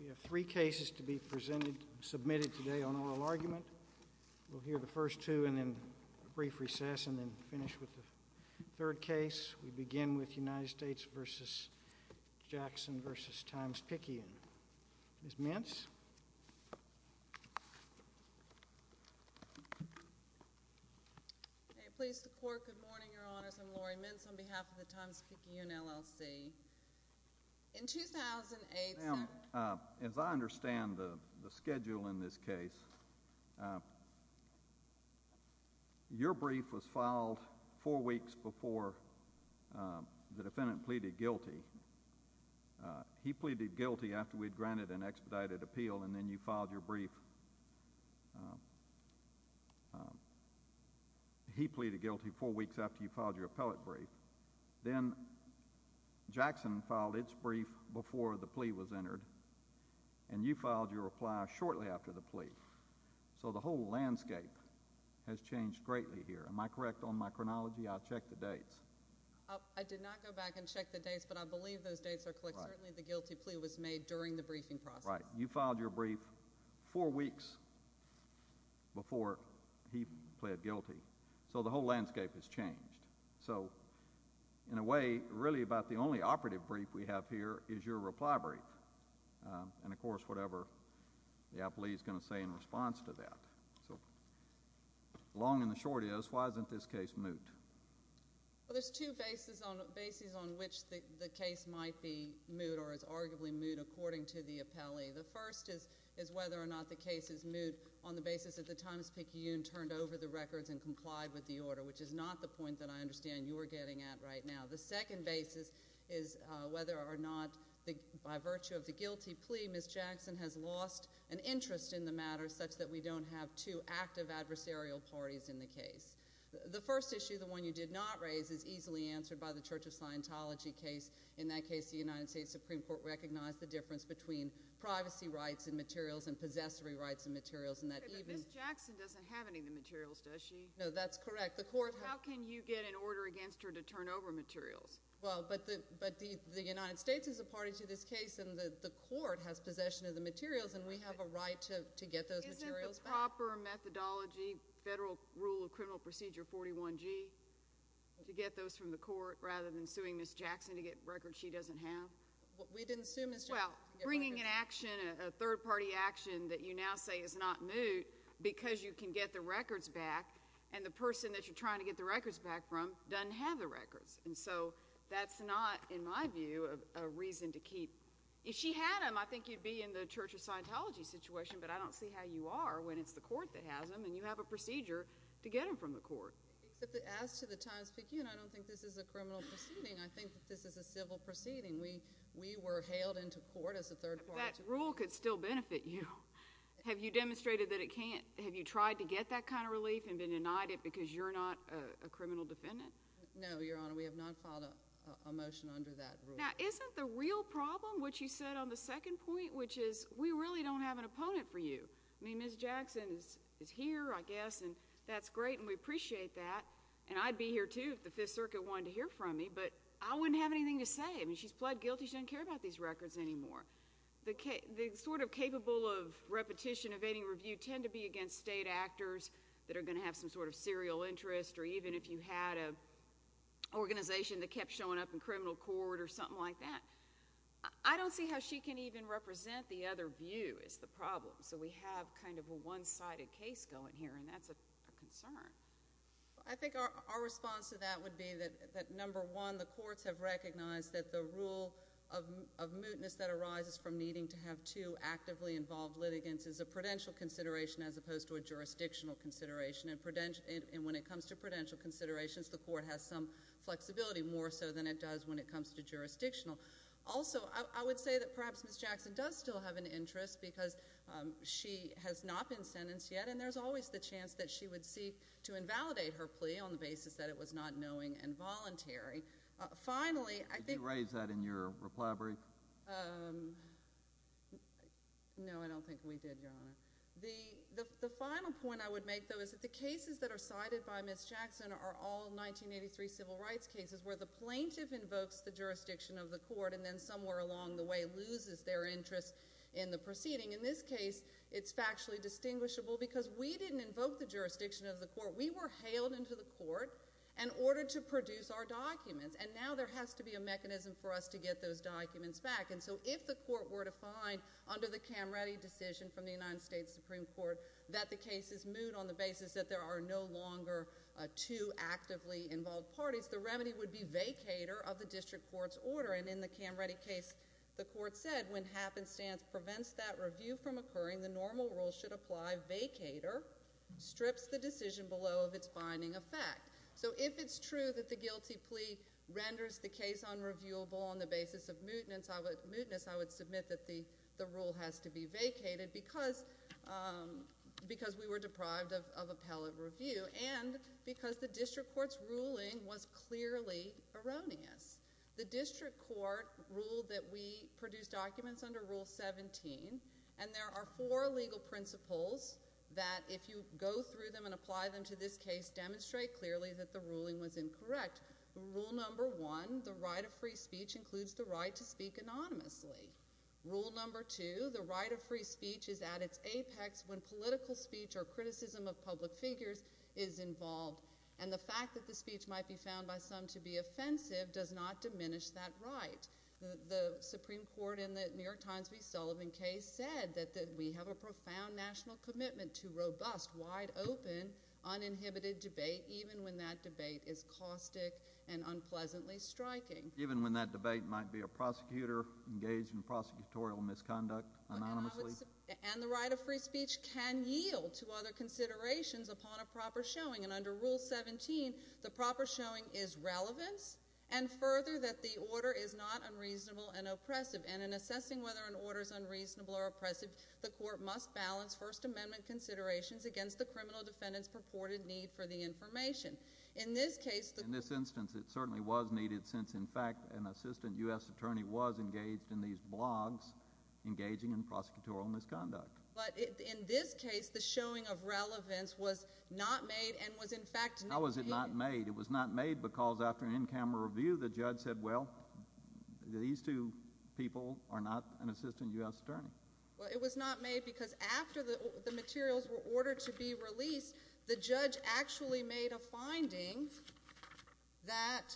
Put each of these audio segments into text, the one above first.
We have three cases to be submitted today on oral argument. We'll hear the first two and then a brief recess and then finish with the third case. We begin with United States v. Jackson v. Times-Picayune. Ms. Mintz? May it please the Court, good morning, Your Honors. I'm Lori Mintz on behalf of the Times-Picayune LLC. In 2008— Now, as I understand the schedule in this case, your brief was filed four weeks before the defendant pleaded guilty. He pleaded guilty after we'd granted an expedited appeal and then you filed your brief—he pleaded guilty four weeks after you filed your appellate brief. Then Jackson filed its brief before the plea was entered, and you filed your reply shortly after the plea. So the whole landscape has changed greatly here. Am I correct on my chronology? I'll check the dates. I did not go back and check the dates, but I believe those dates are correct. Certainly the guilty plea was made during the briefing process. All right. You filed your brief four weeks before he pleaded guilty. So the whole landscape has changed. So, in a way, really about the only operative brief we have here is your reply brief. And, of course, whatever the appellee is going to say in response to that. So, long and the short is, why isn't this case moot? Well, there's two bases on which the case might be moot or is arguably moot, according to the appellee. The first is whether or not the case is moot on the basis that the Times-Picayune turned over the records and complied with the order, which is not the point that I understand you are getting at right now. The second basis is whether or not, by virtue of the guilty plea, Ms. Jackson has lost an interest in the matter, such that we don't have two active adversarial parties in the case. The first issue, the one you did not raise, is easily answered by the Church of Scientology case. In that case, the United States Supreme Court recognized the difference between privacy rights and materials and possessory rights and materials. But Ms. Jackson doesn't have any of the materials, does she? No, that's correct. How can you get an order against her to turn over materials? Well, but the United States is a party to this case, and the court has possession of the materials, and we have a right to get those materials back. Is there a proper methodology, federal rule of criminal procedure 41G, to get those from the court rather than suing Ms. Jackson to get records she doesn't have? We didn't sue Ms. Jackson. Well, bringing an action, a third-party action that you now say is not moot because you can get the records back and the person that you're trying to get the records back from doesn't have the records. And so that's not, in my view, a reason to keep. If she had them, I think you'd be in the Church of Scientology situation, but I don't see how you are when it's the court that has them and you have a procedure to get them from the court. Except that as to the times begin, I don't think this is a criminal proceeding. I think that this is a civil proceeding. We were hailed into court as a third party. But that rule could still benefit you. Have you demonstrated that it can't? Have you tried to get that kind of relief and been denied it because you're not a criminal defendant? No, Your Honor, we have not filed a motion under that rule. Now, isn't the real problem what you said on the second point, which is we really don't have an opponent for you? I mean, Ms. Jackson is here, I guess, and that's great, and we appreciate that. And I'd be here too if the Fifth Circuit wanted to hear from me, but I wouldn't have anything to say. I mean, she's pled guilty. She doesn't care about these records anymore. The sort of capable of repetition of any review tend to be against state actors that are going to have some sort of serial interest or even if you had an organization that kept showing up in criminal court or something like that. I don't see how she can even represent the other view is the problem. So we have kind of a one-sided case going here, and that's a concern. I think our response to that would be that, number one, the courts have recognized that the rule of mootness that arises from needing to have two actively involved litigants is a prudential consideration as opposed to a jurisdictional consideration. And when it comes to prudential considerations, the court has some flexibility, more so than it does when it comes to jurisdictional. Also, I would say that perhaps Ms. Jackson does still have an interest because she has not been sentenced yet, and there's always the chance that she would seek to invalidate her plea on the basis that it was not knowing and voluntary. Finally, I think— Did you raise that in your reply brief? No, I don't think we did, Your Honor. The final point I would make, though, is that the cases that are cited by Ms. Jackson are all 1983 civil rights cases where the plaintiff invokes the jurisdiction of the court and then somewhere along the way loses their interest in the proceeding. In this case, it's factually distinguishable because we didn't invoke the jurisdiction of the court. We were hailed into the court in order to produce our documents, and now there has to be a mechanism for us to get those documents back. And so if the court were to find under the Camreddi decision from the United States Supreme Court that the case is moot on the basis that there are no longer two actively involved parties, the remedy would be vacator of the district court's order. And in the Camreddi case, the court said when happenstance prevents that review from occurring, the normal rule should apply vacator, strips the decision below of its binding effect. So if it's true that the guilty plea renders the case unreviewable on the basis of mootness, I would submit that the rule has to be vacated because we were deprived of appellate review and because the district court's ruling was clearly erroneous. The district court ruled that we produced documents under Rule 17, and there are four legal principles that if you go through them and apply them to this case, demonstrate clearly that the ruling was incorrect. Rule number one, the right of free speech includes the right to speak anonymously. Rule number two, the right of free speech is at its apex when political speech or criticism of public figures is involved, and the fact that the speech might be found by some to be offensive does not diminish that right. The Supreme Court in the New York Times v. Sullivan case said that we have a profound national commitment to robust, wide-open, uninhibited debate even when that debate is caustic and unpleasantly striking. Even when that debate might be a prosecutor engaged in prosecutorial misconduct anonymously? And the right of free speech can yield to other considerations upon a proper showing, and under Rule 17, the proper showing is relevance and further that the order is not unreasonable and oppressive, and in assessing whether an order is unreasonable or oppressive, the court must balance First Amendment considerations against the criminal defendant's purported need for the information. In this case, in this instance, it certainly was needed since, in fact, an assistant U.S. attorney was engaged in these blogs engaging in prosecutorial misconduct. But in this case, the showing of relevance was not made and was, in fact, not made. How was it not made? It was not made because after an in-camera review, the judge said, well, these two people are not an assistant U.S. attorney. Well, it was not made because after the materials were ordered to be released, the judge actually made a finding that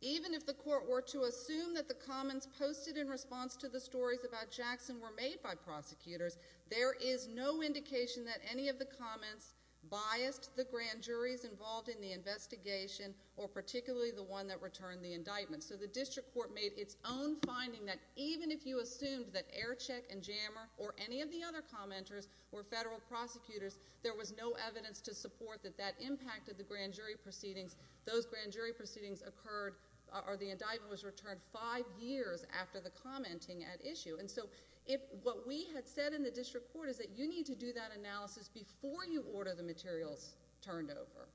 even if the court were to assume that the comments posted in response to the stories about Jackson were made by prosecutors, there is no indication that any of the comments biased the grand juries involved in the investigation or particularly the one that returned the indictment. So the district court made its own finding that even if you assumed that Aircheck and Jammer or any of the other commenters were federal prosecutors, there was no evidence to support that that impacted the grand jury proceedings. Those grand jury proceedings occurred or the indictment was returned five years after the commenting at issue. And so what we had said in the district court is that you need to do that analysis before you order the materials turned over.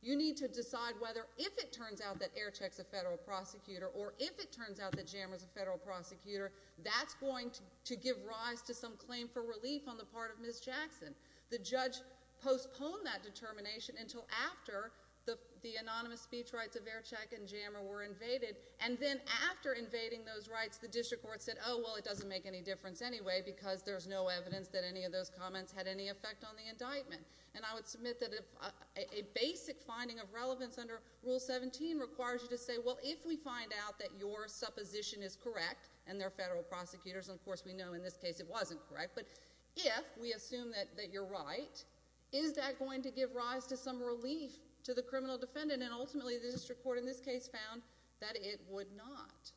You need to decide whether if it turns out that Aircheck's a federal prosecutor or if it turns out that Jammer's a federal prosecutor, that's going to give rise to some claim for relief on the part of Ms. Jackson. The judge postponed that determination until after the anonymous speech rights of Aircheck and Jammer were invaded. And then after invading those rights, the district court said, oh, well, it doesn't make any difference anyway because there's no evidence that any of those comments had any effect on the indictment. And I would submit that a basic finding of relevance under Rule 17 requires you to say, well, if we find out that your supposition is correct and they're federal prosecutors, and of course we know in this case it wasn't correct, but if we assume that you're right, is that going to give rise to some relief to the criminal defendant? And ultimately the district court in this case found that it would not.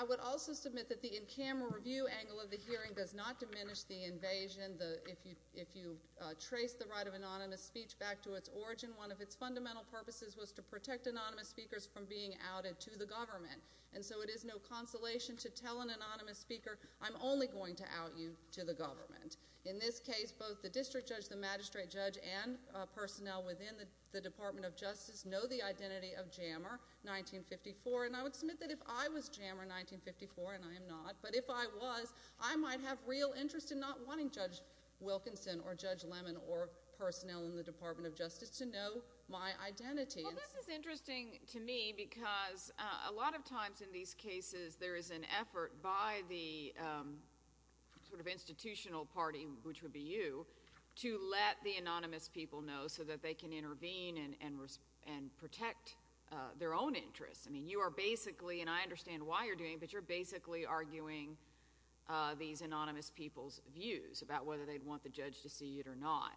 I would also submit that the in-camera review angle of the hearing does not diminish the invasion. If you trace the right of anonymous speech back to its origin, one of its fundamental purposes was to protect anonymous speakers from being outed to the government. And so it is no consolation to tell an anonymous speaker, I'm only going to out you to the government. In this case, both the district judge, the magistrate judge, and personnel within the Department of Justice know the identity of Jammer 1954, and I would submit that if I was Jammer 1954, and I am not, but if I was, I might have real interest in not wanting Judge Wilkinson or Judge Lemon or personnel in the Department of Justice to know my identity. Well, this is interesting to me because a lot of times in these cases there is an effort by the sort of institutional party, which would be you, to let the anonymous people know so that they can intervene and protect their own interests. I mean, you are basically, and I understand why you're doing it, but you're basically arguing these anonymous people's views about whether they'd want the judge to see it or not.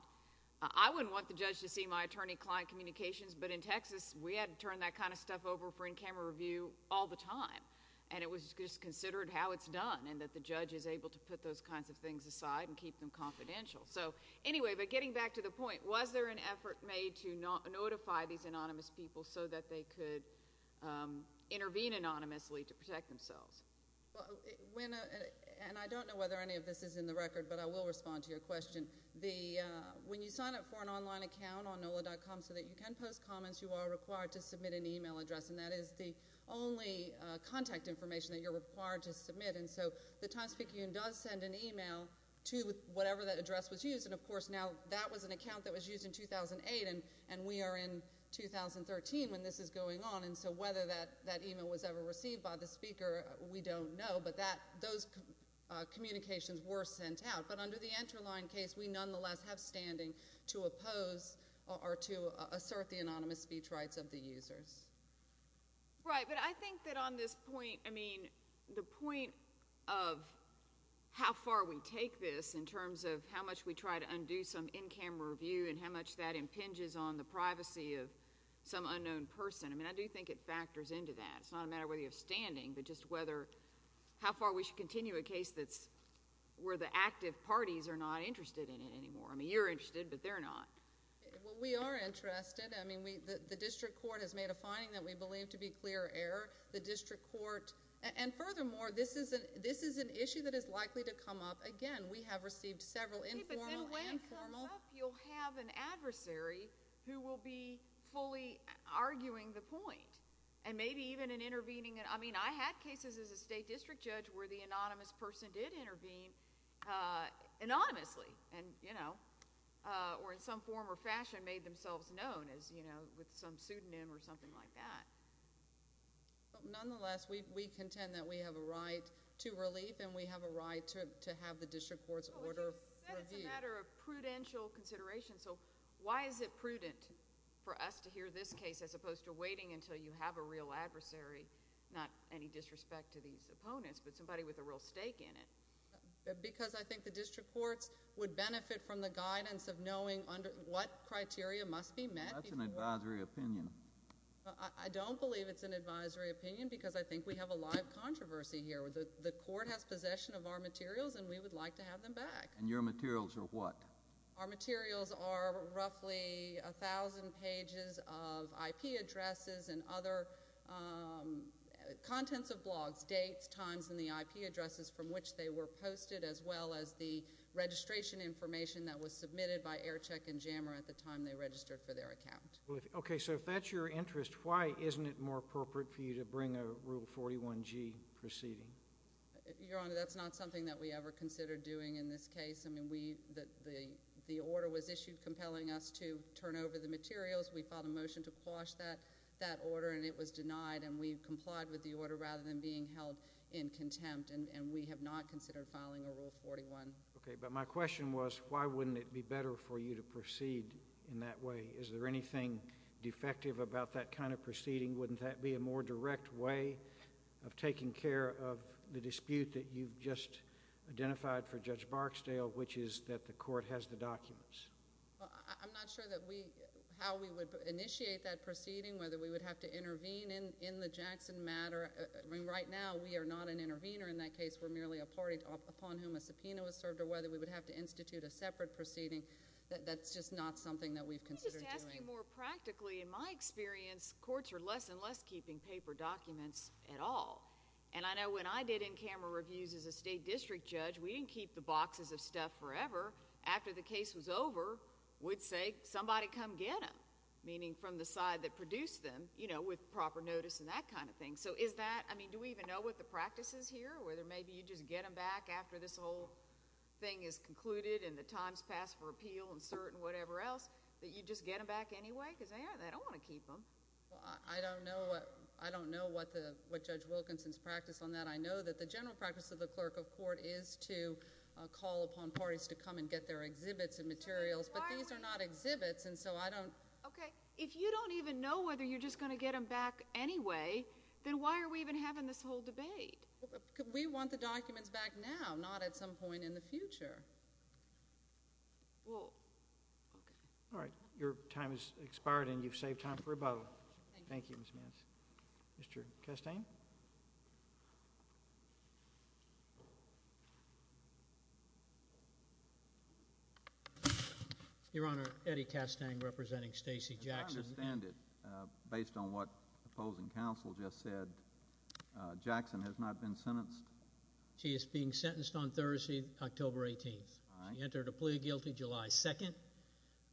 I wouldn't want the judge to see my attorney-client communications, but in Texas we had to turn that kind of stuff over for in-camera review all the time, and it was just considered how it's done and that the judge is able to put those kinds of things aside and keep them confidential. So anyway, but getting back to the point, was there an effort made to notify these anonymous people so that they could intervene anonymously to protect themselves? And I don't know whether any of this is in the record, but I will respond to your question. When you sign up for an online account on NOLA.com so that you can post comments, you are required to submit an email address, and that is the only contact information that you're required to submit. And so the Times-Speaking Union does send an email to whatever that address was used, and of course now that was an account that was used in 2008, and we are in 2013 when this is going on. And so whether that email was ever received by the speaker, we don't know, but those communications were sent out. But under the Enterline case, we nonetheless have standing to oppose or to assert the anonymous speech rights of the users. Right, but I think that on this point, I mean, the point of how far we take this in terms of how much we try to undo some in-camera review and how much that impinges on the privacy of some unknown person, I mean, I do think it factors into that. It's not a matter of whether you have standing, but just whether, how far we should continue a case that's where the active parties are not interested in it anymore. I mean, you're interested, but they're not. Well, we are interested. I mean, the district court has made a finding that we believe to be clear error. The district court, and furthermore, this is an issue that is likely to come up again. We have received several informal and formal. But then when it comes up, you'll have an adversary who will be fully arguing the point and maybe even intervening. I mean, I had cases as a state district judge where the anonymous person did intervene anonymously, and, you know, or in some form or fashion made themselves known as, you know, with some pseudonym or something like that. Nonetheless, we contend that we have a right to relief, and we have a right to have the district court's order reviewed. But you said it's a matter of prudential consideration. So why is it prudent for us to hear this case as opposed to waiting until you have a real adversary, not any disrespect to these opponents, but somebody with a real stake in it? Because I think the district courts would benefit from the guidance of knowing what criteria must be met. That's an advisory opinion. I don't believe it's an advisory opinion because I think we have a live controversy here. The court has possession of our materials, and we would like to have them back. And your materials are what? Our materials are roughly 1,000 pages of IP addresses and other contents of blogs, dates, times, and the IP addresses from which they were posted, as well as the registration information that was submitted by AirCheck and JAMA at the time they registered for their account. Okay. So if that's your interest, why isn't it more appropriate for you to bring a Rule 41G proceeding? Your Honor, that's not something that we ever considered doing in this case. I mean, the order was issued compelling us to turn over the materials. We filed a motion to quash that. That order, and it was denied, and we complied with the order rather than being held in contempt, and we have not considered filing a Rule 41. Okay, but my question was why wouldn't it be better for you to proceed in that way? Is there anything defective about that kind of proceeding? Wouldn't that be a more direct way of taking care of the dispute that you've just identified for Judge Barksdale, which is that the court has the documents? I'm not sure how we would initiate that proceeding, whether we would have to intervene in the Jackson matter. I mean, right now, we are not an intervener in that case. We're merely a party upon whom a subpoena was served or whether we would have to institute a separate proceeding. That's just not something that we've considered doing. Let me just ask you more practically. In my experience, courts are less and less keeping paper documents at all, and I know when I did in-camera reviews as a state district judge, we didn't keep the boxes of stuff forever. After the case was over, we'd say somebody come get them, meaning from the side that produced them, you know, with proper notice and that kind of thing. So is that, I mean, do we even know what the practice is here, whether maybe you just get them back after this whole thing is concluded and the time has passed for appeal and cert and whatever else, that you just get them back anyway? Because they don't want to keep them. Well, I don't know what Judge Wilkinson's practice on that. I know that the general practice of the clerk of court is to call upon parties to come and get their exhibits and materials, but these are not exhibits, and so I don't. Okay. If you don't even know whether you're just going to get them back anyway, then why are we even having this whole debate? We want the documents back now, not at some point in the future. Well, okay. All right. Your time has expired, and you've saved time for rebuttal. Thank you. Thank you, Ms. Manson. Mr. Castaigne. Your Honor, Eddie Castaigne representing Stacey Jackson. As I understand it, based on what the opposing counsel just said, Jackson has not been sentenced? She is being sentenced on Thursday, October 18th. She entered a plea guilty July 2nd.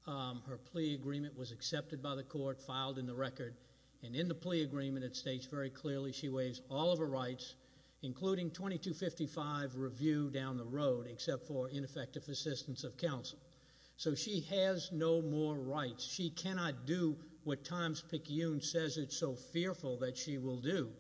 Her plea agreement was accepted by the court, filed in the record, and in the plea agreement it states very clearly she waives all of her rights, including 2255 review down the road except for ineffective assistance of counsel. So she has no more rights. She cannot do what Times-Picayune says it's so fearful that she will do,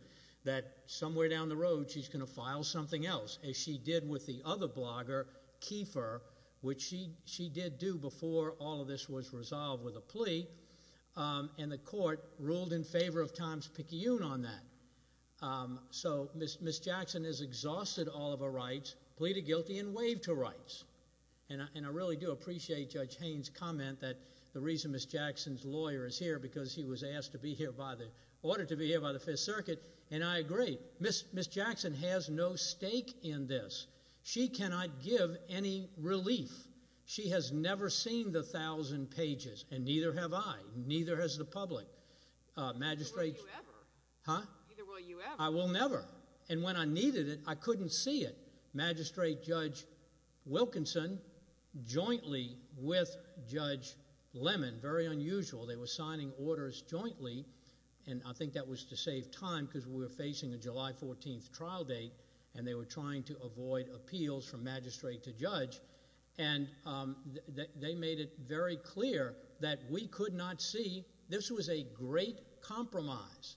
that somewhere down the road she's going to file something else, as she did with the other blogger, Kiefer, which she did do before all of this was resolved with a plea, and the court ruled in favor of Times-Picayune on that. So Ms. Jackson has exhausted all of her rights, pleaded guilty, and waived her rights. And I really do appreciate Judge Haynes' comment that the reason Ms. Jackson's lawyer is here is because he was asked to be here by the Fifth Circuit, and I agree. Ms. Jackson has no stake in this. She cannot give any relief. She has never seen the thousand pages, and neither have I. Neither has the public. Neither will you ever. I will never. And when I needed it, I couldn't see it. Magistrate Judge Wilkinson jointly with Judge Lemon, very unusual. They were signing orders jointly, and I think that was to save time because we were facing a July 14th trial date, and they were trying to avoid appeals from magistrate to judge, and they made it very clear that we could not see. This was a great compromise.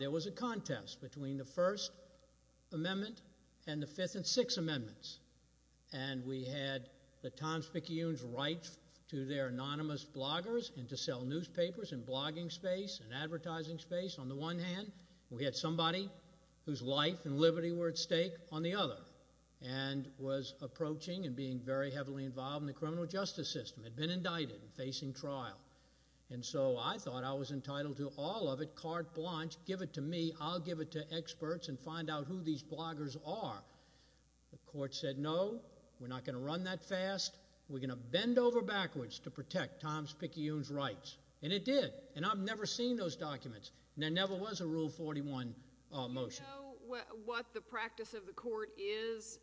There was a contest between the First Amendment and the Fifth and Sixth Amendments, and we had the Times-Picayune's right to their anonymous bloggers and to sell newspapers and blogging space and advertising space on the one hand. We had somebody whose life and liberty were at stake on the other and was approaching and being very heavily involved in the criminal justice system, had been indicted and facing trial. And so I thought I was entitled to all of it, carte blanche, give it to me. I'll give it to experts and find out who these bloggers are. The court said, no, we're not going to run that fast. We're going to bend over backwards to protect Times-Picayune's rights, and it did, and I've never seen those documents. There never was a Rule 41 motion. Do you know what the practice of the court is?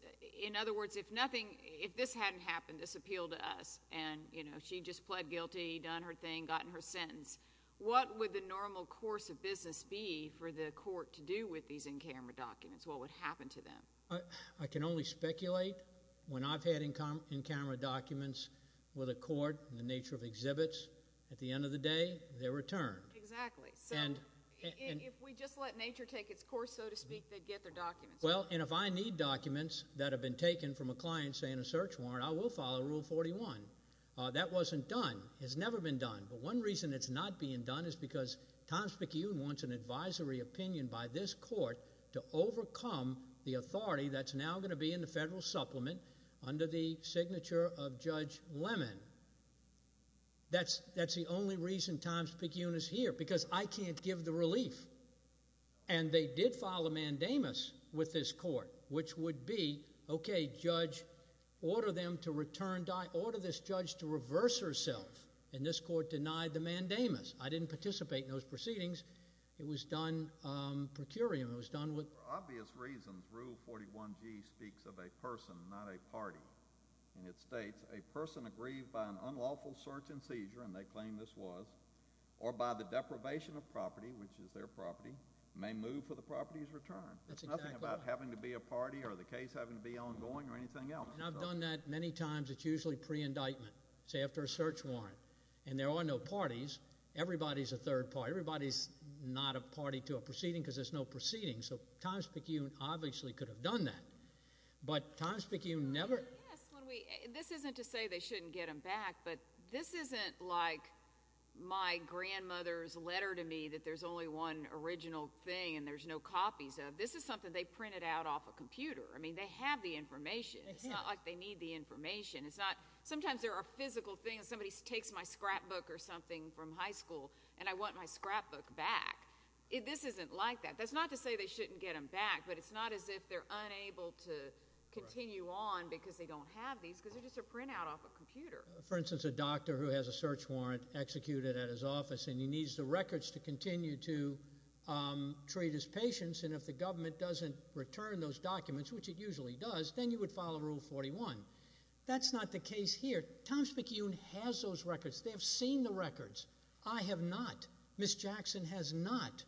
In other words, if nothing, if this hadn't happened, this appeal to us, and she just pled guilty, done her thing, gotten her sentence, what would the normal course of business be for the court to do with these in-camera documents? What would happen to them? I can only speculate. When I've had in-camera documents with a court in the nature of exhibits, at the end of the day they're returned. Exactly. So if we just let nature take its course, so to speak, they'd get their documents. Well, and if I need documents that have been taken from a client saying a search warrant, I will follow Rule 41. That wasn't done. It's never been done. But one reason it's not being done is because Times-Picayune wants an advisory opinion by this court to overcome the authority that's now going to be in the federal supplement under the signature of Judge Lemon. That's the only reason Times-Picayune is here, because I can't give the relief. And they did file a mandamus with this court, which would be, okay, judge, order them to return, order this judge to reverse herself. And this court denied the mandamus. I didn't participate in those proceedings. It was done per curiam. It was done with— And it states, a person aggrieved by an unlawful search and seizure, and they claim this was, or by the deprivation of property, which is their property, may move for the property's return. That's exactly right. It's nothing about having to be a party or the case having to be ongoing or anything else. And I've done that many times. It's usually pre-indictment, say after a search warrant. And there are no parties. Everybody's a third party. Everybody's not a party to a proceeding because there's no proceeding. So Times-Picayune obviously could have done that. But Times-Picayune never— Yes. This isn't to say they shouldn't get them back, but this isn't like my grandmother's letter to me that there's only one original thing and there's no copies of. This is something they printed out off a computer. I mean they have the information. It's not like they need the information. It's not—sometimes there are physical things. Somebody takes my scrapbook or something from high school, and I want my scrapbook back. This isn't like that. That's not to say they shouldn't get them back, but it's not as if they're unable to continue on because they don't have these because they're just a printout off a computer. For instance, a doctor who has a search warrant executed at his office and he needs the records to continue to treat his patients, and if the government doesn't return those documents, which it usually does, then you would follow Rule 41. That's not the case here. Times-Picayune has those records. They have seen the records. I have not. Ms. Jackson has not.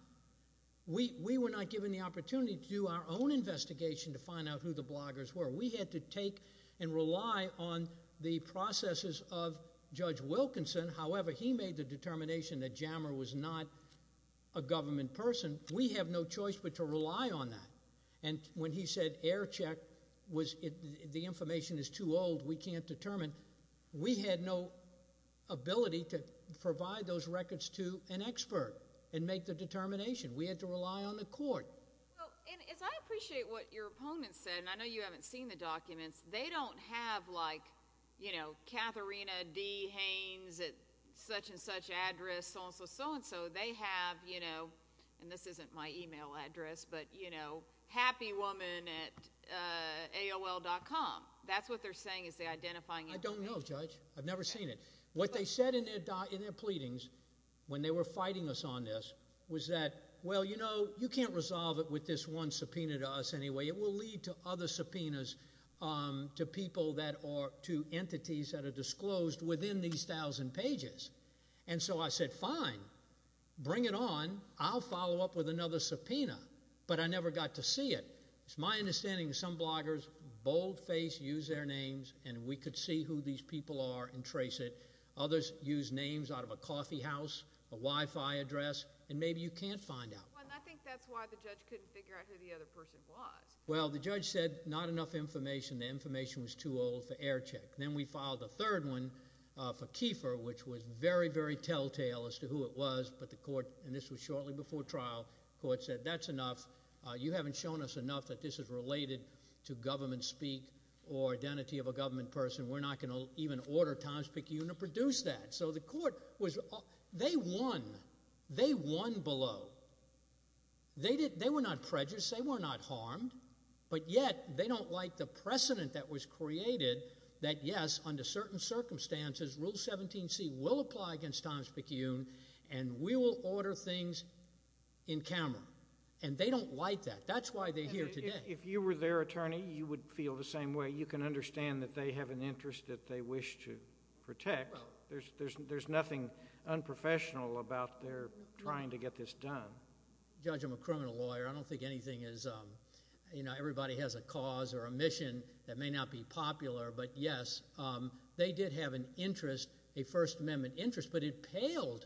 We were not given the opportunity to do our own investigation to find out who the bloggers were. We had to take and rely on the processes of Judge Wilkinson. However, he made the determination that Jammer was not a government person. We have no choice but to rely on that. And when he said air check, the information is too old, we can't determine, we had no ability to provide those records to an expert and make the determination. We had to rely on the court. And as I appreciate what your opponent said, and I know you haven't seen the documents, they don't have, like, you know, Katharina D. Haynes at such-and-such address, so-and-so, so-and-so. They have, you know, and this isn't my email address, but, you know, happywoman at AOL.com. That's what they're saying is they're identifying information. I don't know, Judge. I've never seen it. What they said in their pleadings when they were fighting us on this was that, well, you know, you can't resolve it with this one subpoena to us anyway. It will lead to other subpoenas to people that are, to entities that are disclosed within these thousand pages. And so I said, fine, bring it on. I'll follow up with another subpoena. But I never got to see it. It's my understanding that some bloggers, bold face, use their names, and we could see who these people are and trace it. Others use names out of a coffeehouse, a Wi-Fi address, and maybe you can't find out. Well, and I think that's why the judge couldn't figure out who the other person was. Well, the judge said not enough information. The information was too old for air check. Then we filed a third one for Kiefer, which was very, very telltale as to who it was, but the court, and this was shortly before trial, the court said that's enough. You haven't shown us enough that this is related to government speak or identity of a government person. We're not going to even order Times-Picayune to produce that. So the court was, they won. They won below. They were not prejudiced. They were not harmed. But yet they don't like the precedent that was created that, yes, under certain circumstances, Rule 17C will apply against Times-Picayune, and we will order things in camera. And they don't like that. That's why they're here today. If you were their attorney, you would feel the same way. You can understand that they have an interest that they wish to protect. There's nothing unprofessional about their trying to get this done. Judge, I'm a criminal lawyer. I don't think anything is, you know, everybody has a cause or a mission that may not be popular. But, yes, they did have an interest, a First Amendment interest, but it paled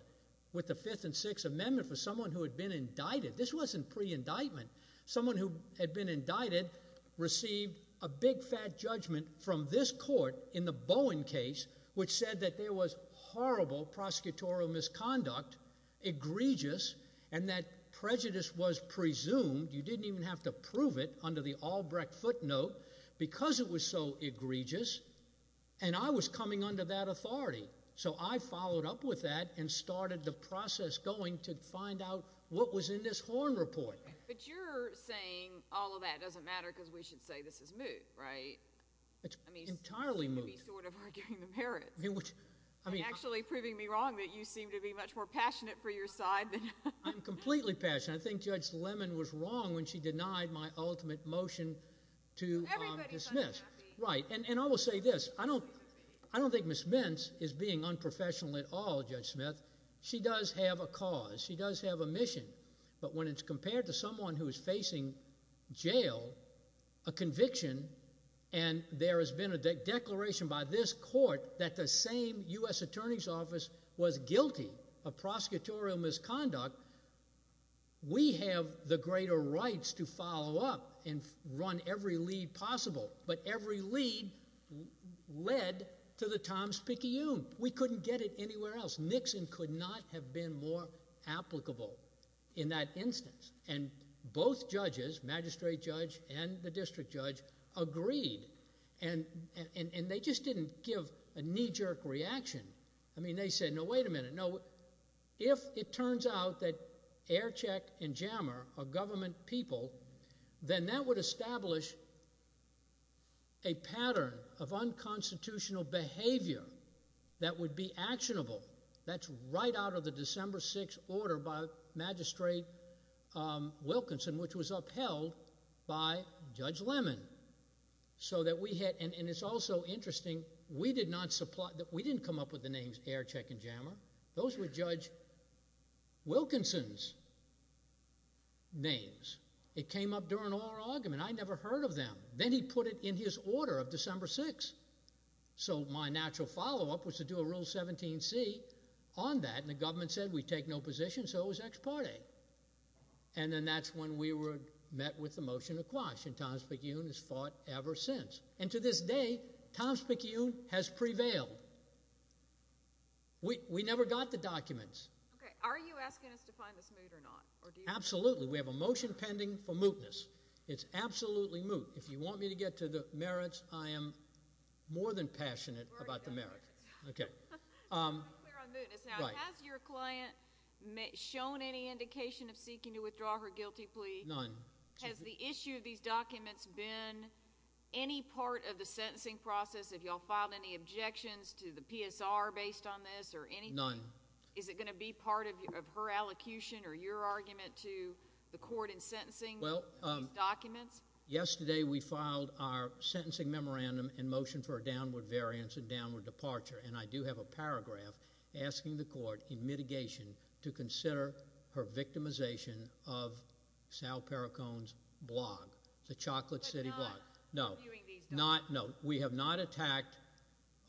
with the Fifth and Sixth Amendment for someone who had been indicted. This wasn't pre-indictment. Someone who had been indicted received a big, fat judgment from this court in the Bowen case, which said that there was horrible prosecutorial misconduct, egregious, and that prejudice was presumed. You didn't even have to prove it under the Albrecht footnote because it was so egregious. And I was coming under that authority. So I followed up with that and started the process going to find out what was in this Horne report. But you're saying all of that doesn't matter because we should say this is moot, right? It's entirely moot. I mean, you seem to be sort of arguing the merits. I mean, actually proving me wrong that you seem to be much more passionate for your side than I am. I'm completely passionate. I think Judge Lemon was wrong when she denied my ultimate motion to dismiss. Right. And I will say this. I don't think Ms. Mintz is being unprofessional at all, Judge Smith. She does have a cause. She does have a mission. But when it's compared to someone who is facing jail, a conviction, and there has been a declaration by this court that the same U.S. Attorney's Office was guilty of prosecutorial misconduct, we have the greater rights to follow up and run every lead possible. But every lead led to the Tom Spicchione. We couldn't get it anywhere else. Nixon could not have been more applicable in that instance. And both judges, magistrate judge and the district judge, agreed. And they just didn't give a knee-jerk reaction. No, if it turns out that Aircheck and Jammer are government people, then that would establish a pattern of unconstitutional behavior that would be actionable. That's right out of the December 6th order by Magistrate Wilkinson, which was upheld by Judge Lemon. And it's also interesting, we didn't come up with the names Aircheck and Jammer. Those were Judge Wilkinson's names. It came up during our argument. I never heard of them. Then he put it in his order of December 6th. So my natural follow-up was to do a Rule 17c on that, and the government said we take no position, so it was ex parte. And then that's when we met with the motion to quash, and Tom Spicchione has fought ever since. And to this day, Tom Spicchione has prevailed. We never got the documents. Okay, are you asking us to find this moot or not? Absolutely. We have a motion pending for mootness. It's absolutely moot. If you want me to get to the merits, I am more than passionate about the merits. Okay. Has your client shown any indication of seeking to withdraw her guilty plea? None. Has the issue of these documents been any part of the sentencing process? Have you all filed any objections to the PSR based on this or anything? None. Is it going to be part of her allocution or your argument to the court in sentencing these documents? Yesterday we filed our sentencing memorandum in motion for a downward variance and downward departure, and I do have a paragraph asking the court in mitigation to consider her victimization of Sal Pericon's blog, the Chocolate City blog. But not reviewing these documents? No. We have not attacked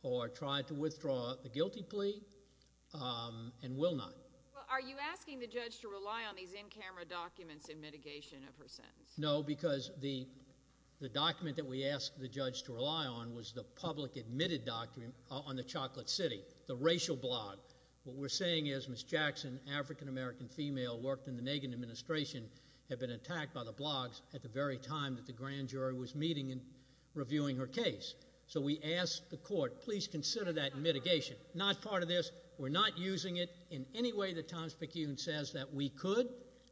or tried to withdraw the guilty plea and will not. Well, are you asking the judge to rely on these in-camera documents in mitigation of her sentence? No, because the document that we asked the judge to rely on was the public-admitted document on the Chocolate City, the racial blog. What we're saying is Ms. Jackson, African-American female, worked in the Nagan administration, had been attacked by the blogs at the very time that the grand jury was meeting and reviewing her case. So we ask the court, please consider that in mitigation. Not part of this. We're not using it in any way that Tom Spicune says that we could.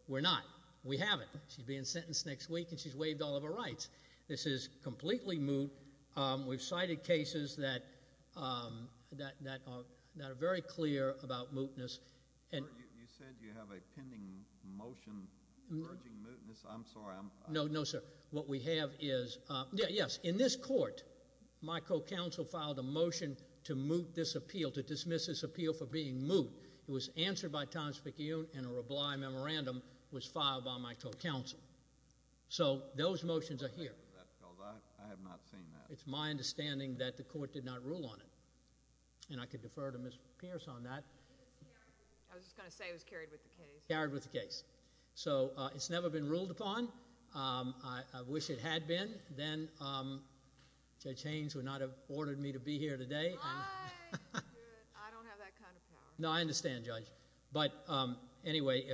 We're not. We haven't. She's being sentenced next week, and she's waived all of her rights. This is completely moot. We've cited cases that are very clear about mootness. You said you have a pending motion urging mootness. I'm sorry. No, no, sir. What we have is, yes, in this court, my co-counsel filed a motion to moot this appeal, to dismiss this appeal for being moot. It was answered by Tom Spicune, and a reblime memorandum was filed by my co-counsel. So those motions are here. I have not seen that. It's my understanding that the court did not rule on it. And I could defer to Ms. Pierce on that. I was just going to say it was carried with the case. Carried with the case. So it's never been ruled upon. I wish it had been. Then Judge Haynes would not have ordered me to be here today. I don't have that kind of power. No, I understand, Judge. But, anyway.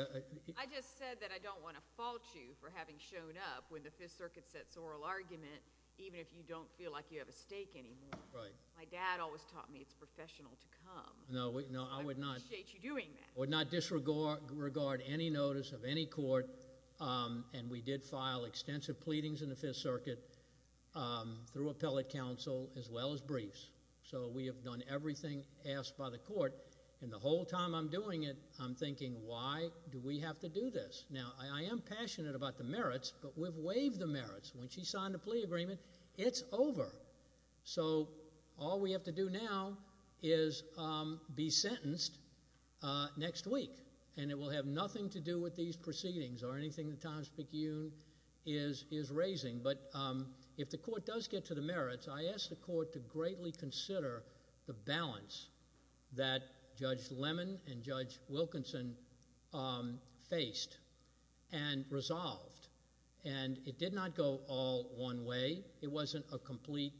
I just said that I don't want to fault you for having shown up when the Fifth Circuit sets oral argument, even if you don't feel like you have a stake anymore. Right. My dad always taught me it's professional to come. No, I would not. I appreciate you doing that. I would not disregard any notice of any court, and we did file extensive pleadings in the Fifth Circuit through appellate counsel as well as briefs. So we have done everything asked by the court. And the whole time I'm doing it, I'm thinking, why do we have to do this? Now, I am passionate about the merits, but we've waived the merits. When she signed the plea agreement, it's over. So all we have to do now is be sentenced next week. And it will have nothing to do with these proceedings or anything that Thomas McEwen is raising. But if the court does get to the merits, I ask the court to greatly consider the balance that Judge Lemon and Judge Wilkinson faced and resolved. And it did not go all one way. It wasn't a complete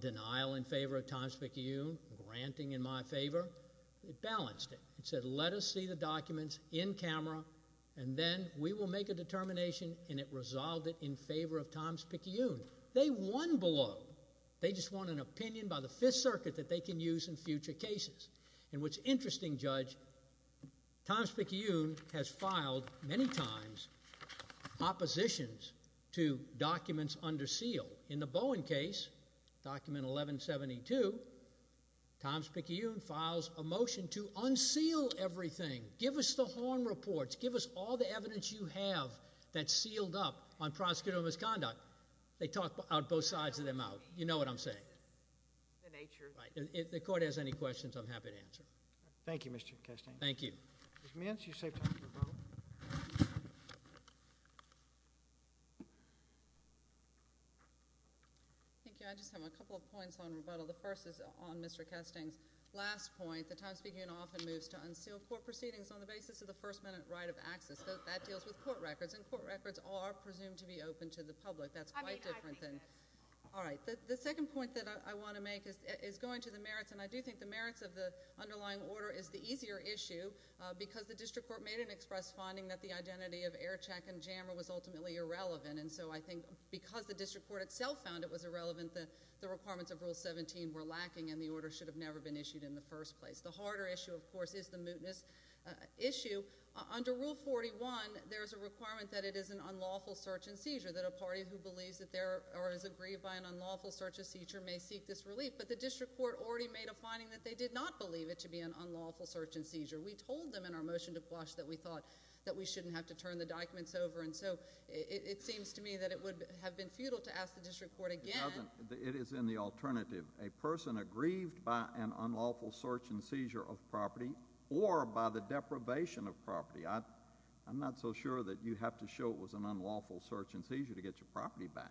denial in favor of Thomas McEwen, granting in my favor. It balanced it. It said, let us see the documents in camera, and then we will make a determination, and it resolved it in favor of Thomas McEwen. They won below. They just won an opinion by the Fifth Circuit that they can use in future cases. And what's interesting, Judge, Thomas McEwen has filed many times oppositions to documents under seal. In the Bowen case, document 1172, Thomas McEwen files a motion to unseal everything. Give us the horn reports. Give us all the evidence you have that's sealed up on prosecutorial misconduct. They talk out both sides of their mouth. You know what I'm saying. The nature. Right. If the court has any questions, I'm happy to answer. Thank you, Mr. Castaign. Thank you. Ms. Mintz, you're safe to go to rebuttal. Thank you. I just have a couple of points on rebuttal. The first is on Mr. Castaign's last point. The Times-Speaking Union often moves to unseal court proceedings on the basis of the first-minute right of access. That deals with court records, and court records are presumed to be open to the public. That's quite different than— I mean, I think that's— All right. The second point that I want to make is going to the merits, and I do think the merits of the underlying order is the easier issue. Because the district court made an express finding that the identity of Aircheck and Jammer was ultimately irrelevant, and so I think because the district court itself found it was irrelevant, the requirements of Rule 17 were lacking, and the order should have never been issued in the first place. The harder issue, of course, is the mootness issue. Under Rule 41, there is a requirement that it is an unlawful search and seizure, that a party who believes that there—or is aggrieved by an unlawful search and seizure may seek this relief. But the district court already made a finding that they did not believe it to be an unlawful search and seizure. We told them in our motion to Quash that we thought that we shouldn't have to turn the documents over, and so it seems to me that it would have been futile to ask the district court again— It doesn't. It is in the alternative. A person aggrieved by an unlawful search and seizure of property or by the deprivation of property. I'm not so sure that you have to show it was an unlawful search and seizure to get your property back.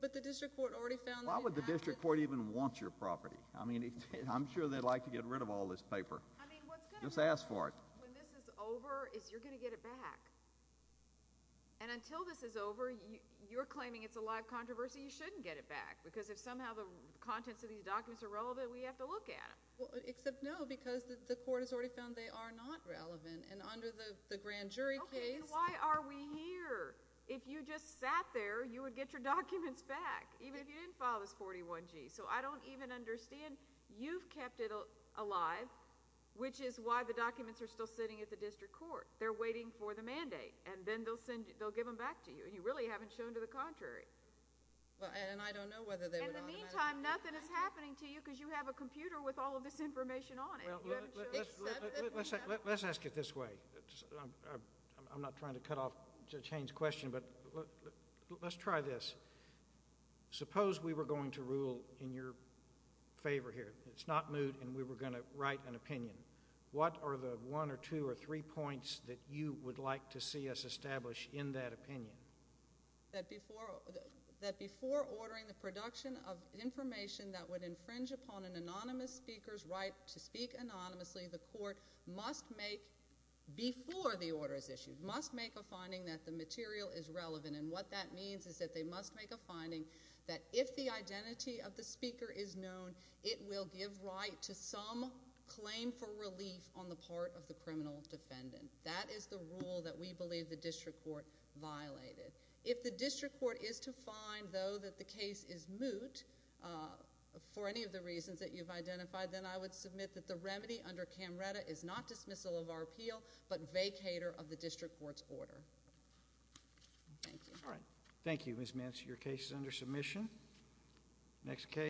But the district court already found— Why would the district court even want your property? I mean, I'm sure they'd like to get rid of all this paper. I mean, what's going to happen when this is over is you're going to get it back. And until this is over, you're claiming it's a live controversy, you shouldn't get it back, because if somehow the contents of these documents are relevant, we have to look at them. Except no, because the court has already found they are not relevant, and under the grand jury case— Okay, then why are we here? If you just sat there, you would get your documents back, even if you didn't file this 41G. So I don't even understand. You've kept it alive, which is why the documents are still sitting at the district court. They're waiting for the mandate, and then they'll give them back to you, and you really haven't shown to the contrary. And I don't know whether they would— In the meantime, nothing is happening to you because you have a computer with all of this information on it. Let's ask it this way. I'm not trying to cut off Judge Haynes' question, but let's try this. Suppose we were going to rule in your favor here. It's not moot, and we were going to write an opinion. What are the one or two or three points that you would like to see us establish in that opinion? That before ordering the production of information that would infringe upon an anonymous speaker's right to speak anonymously, the court must make, before the order is issued, must make a finding that the material is relevant. And what that means is that they must make a finding that if the identity of the speaker is known, it will give right to some claim for relief on the part of the criminal defendant. That is the rule that we believe the district court violated. If the district court is to find, though, that the case is moot for any of the reasons that you've identified, then I would submit that the remedy under Camretta is not dismissal of our appeal, but vacator of the district court's order. Thank you. All right. Thank you, Ms. Mance. Your case is under submission. Next case.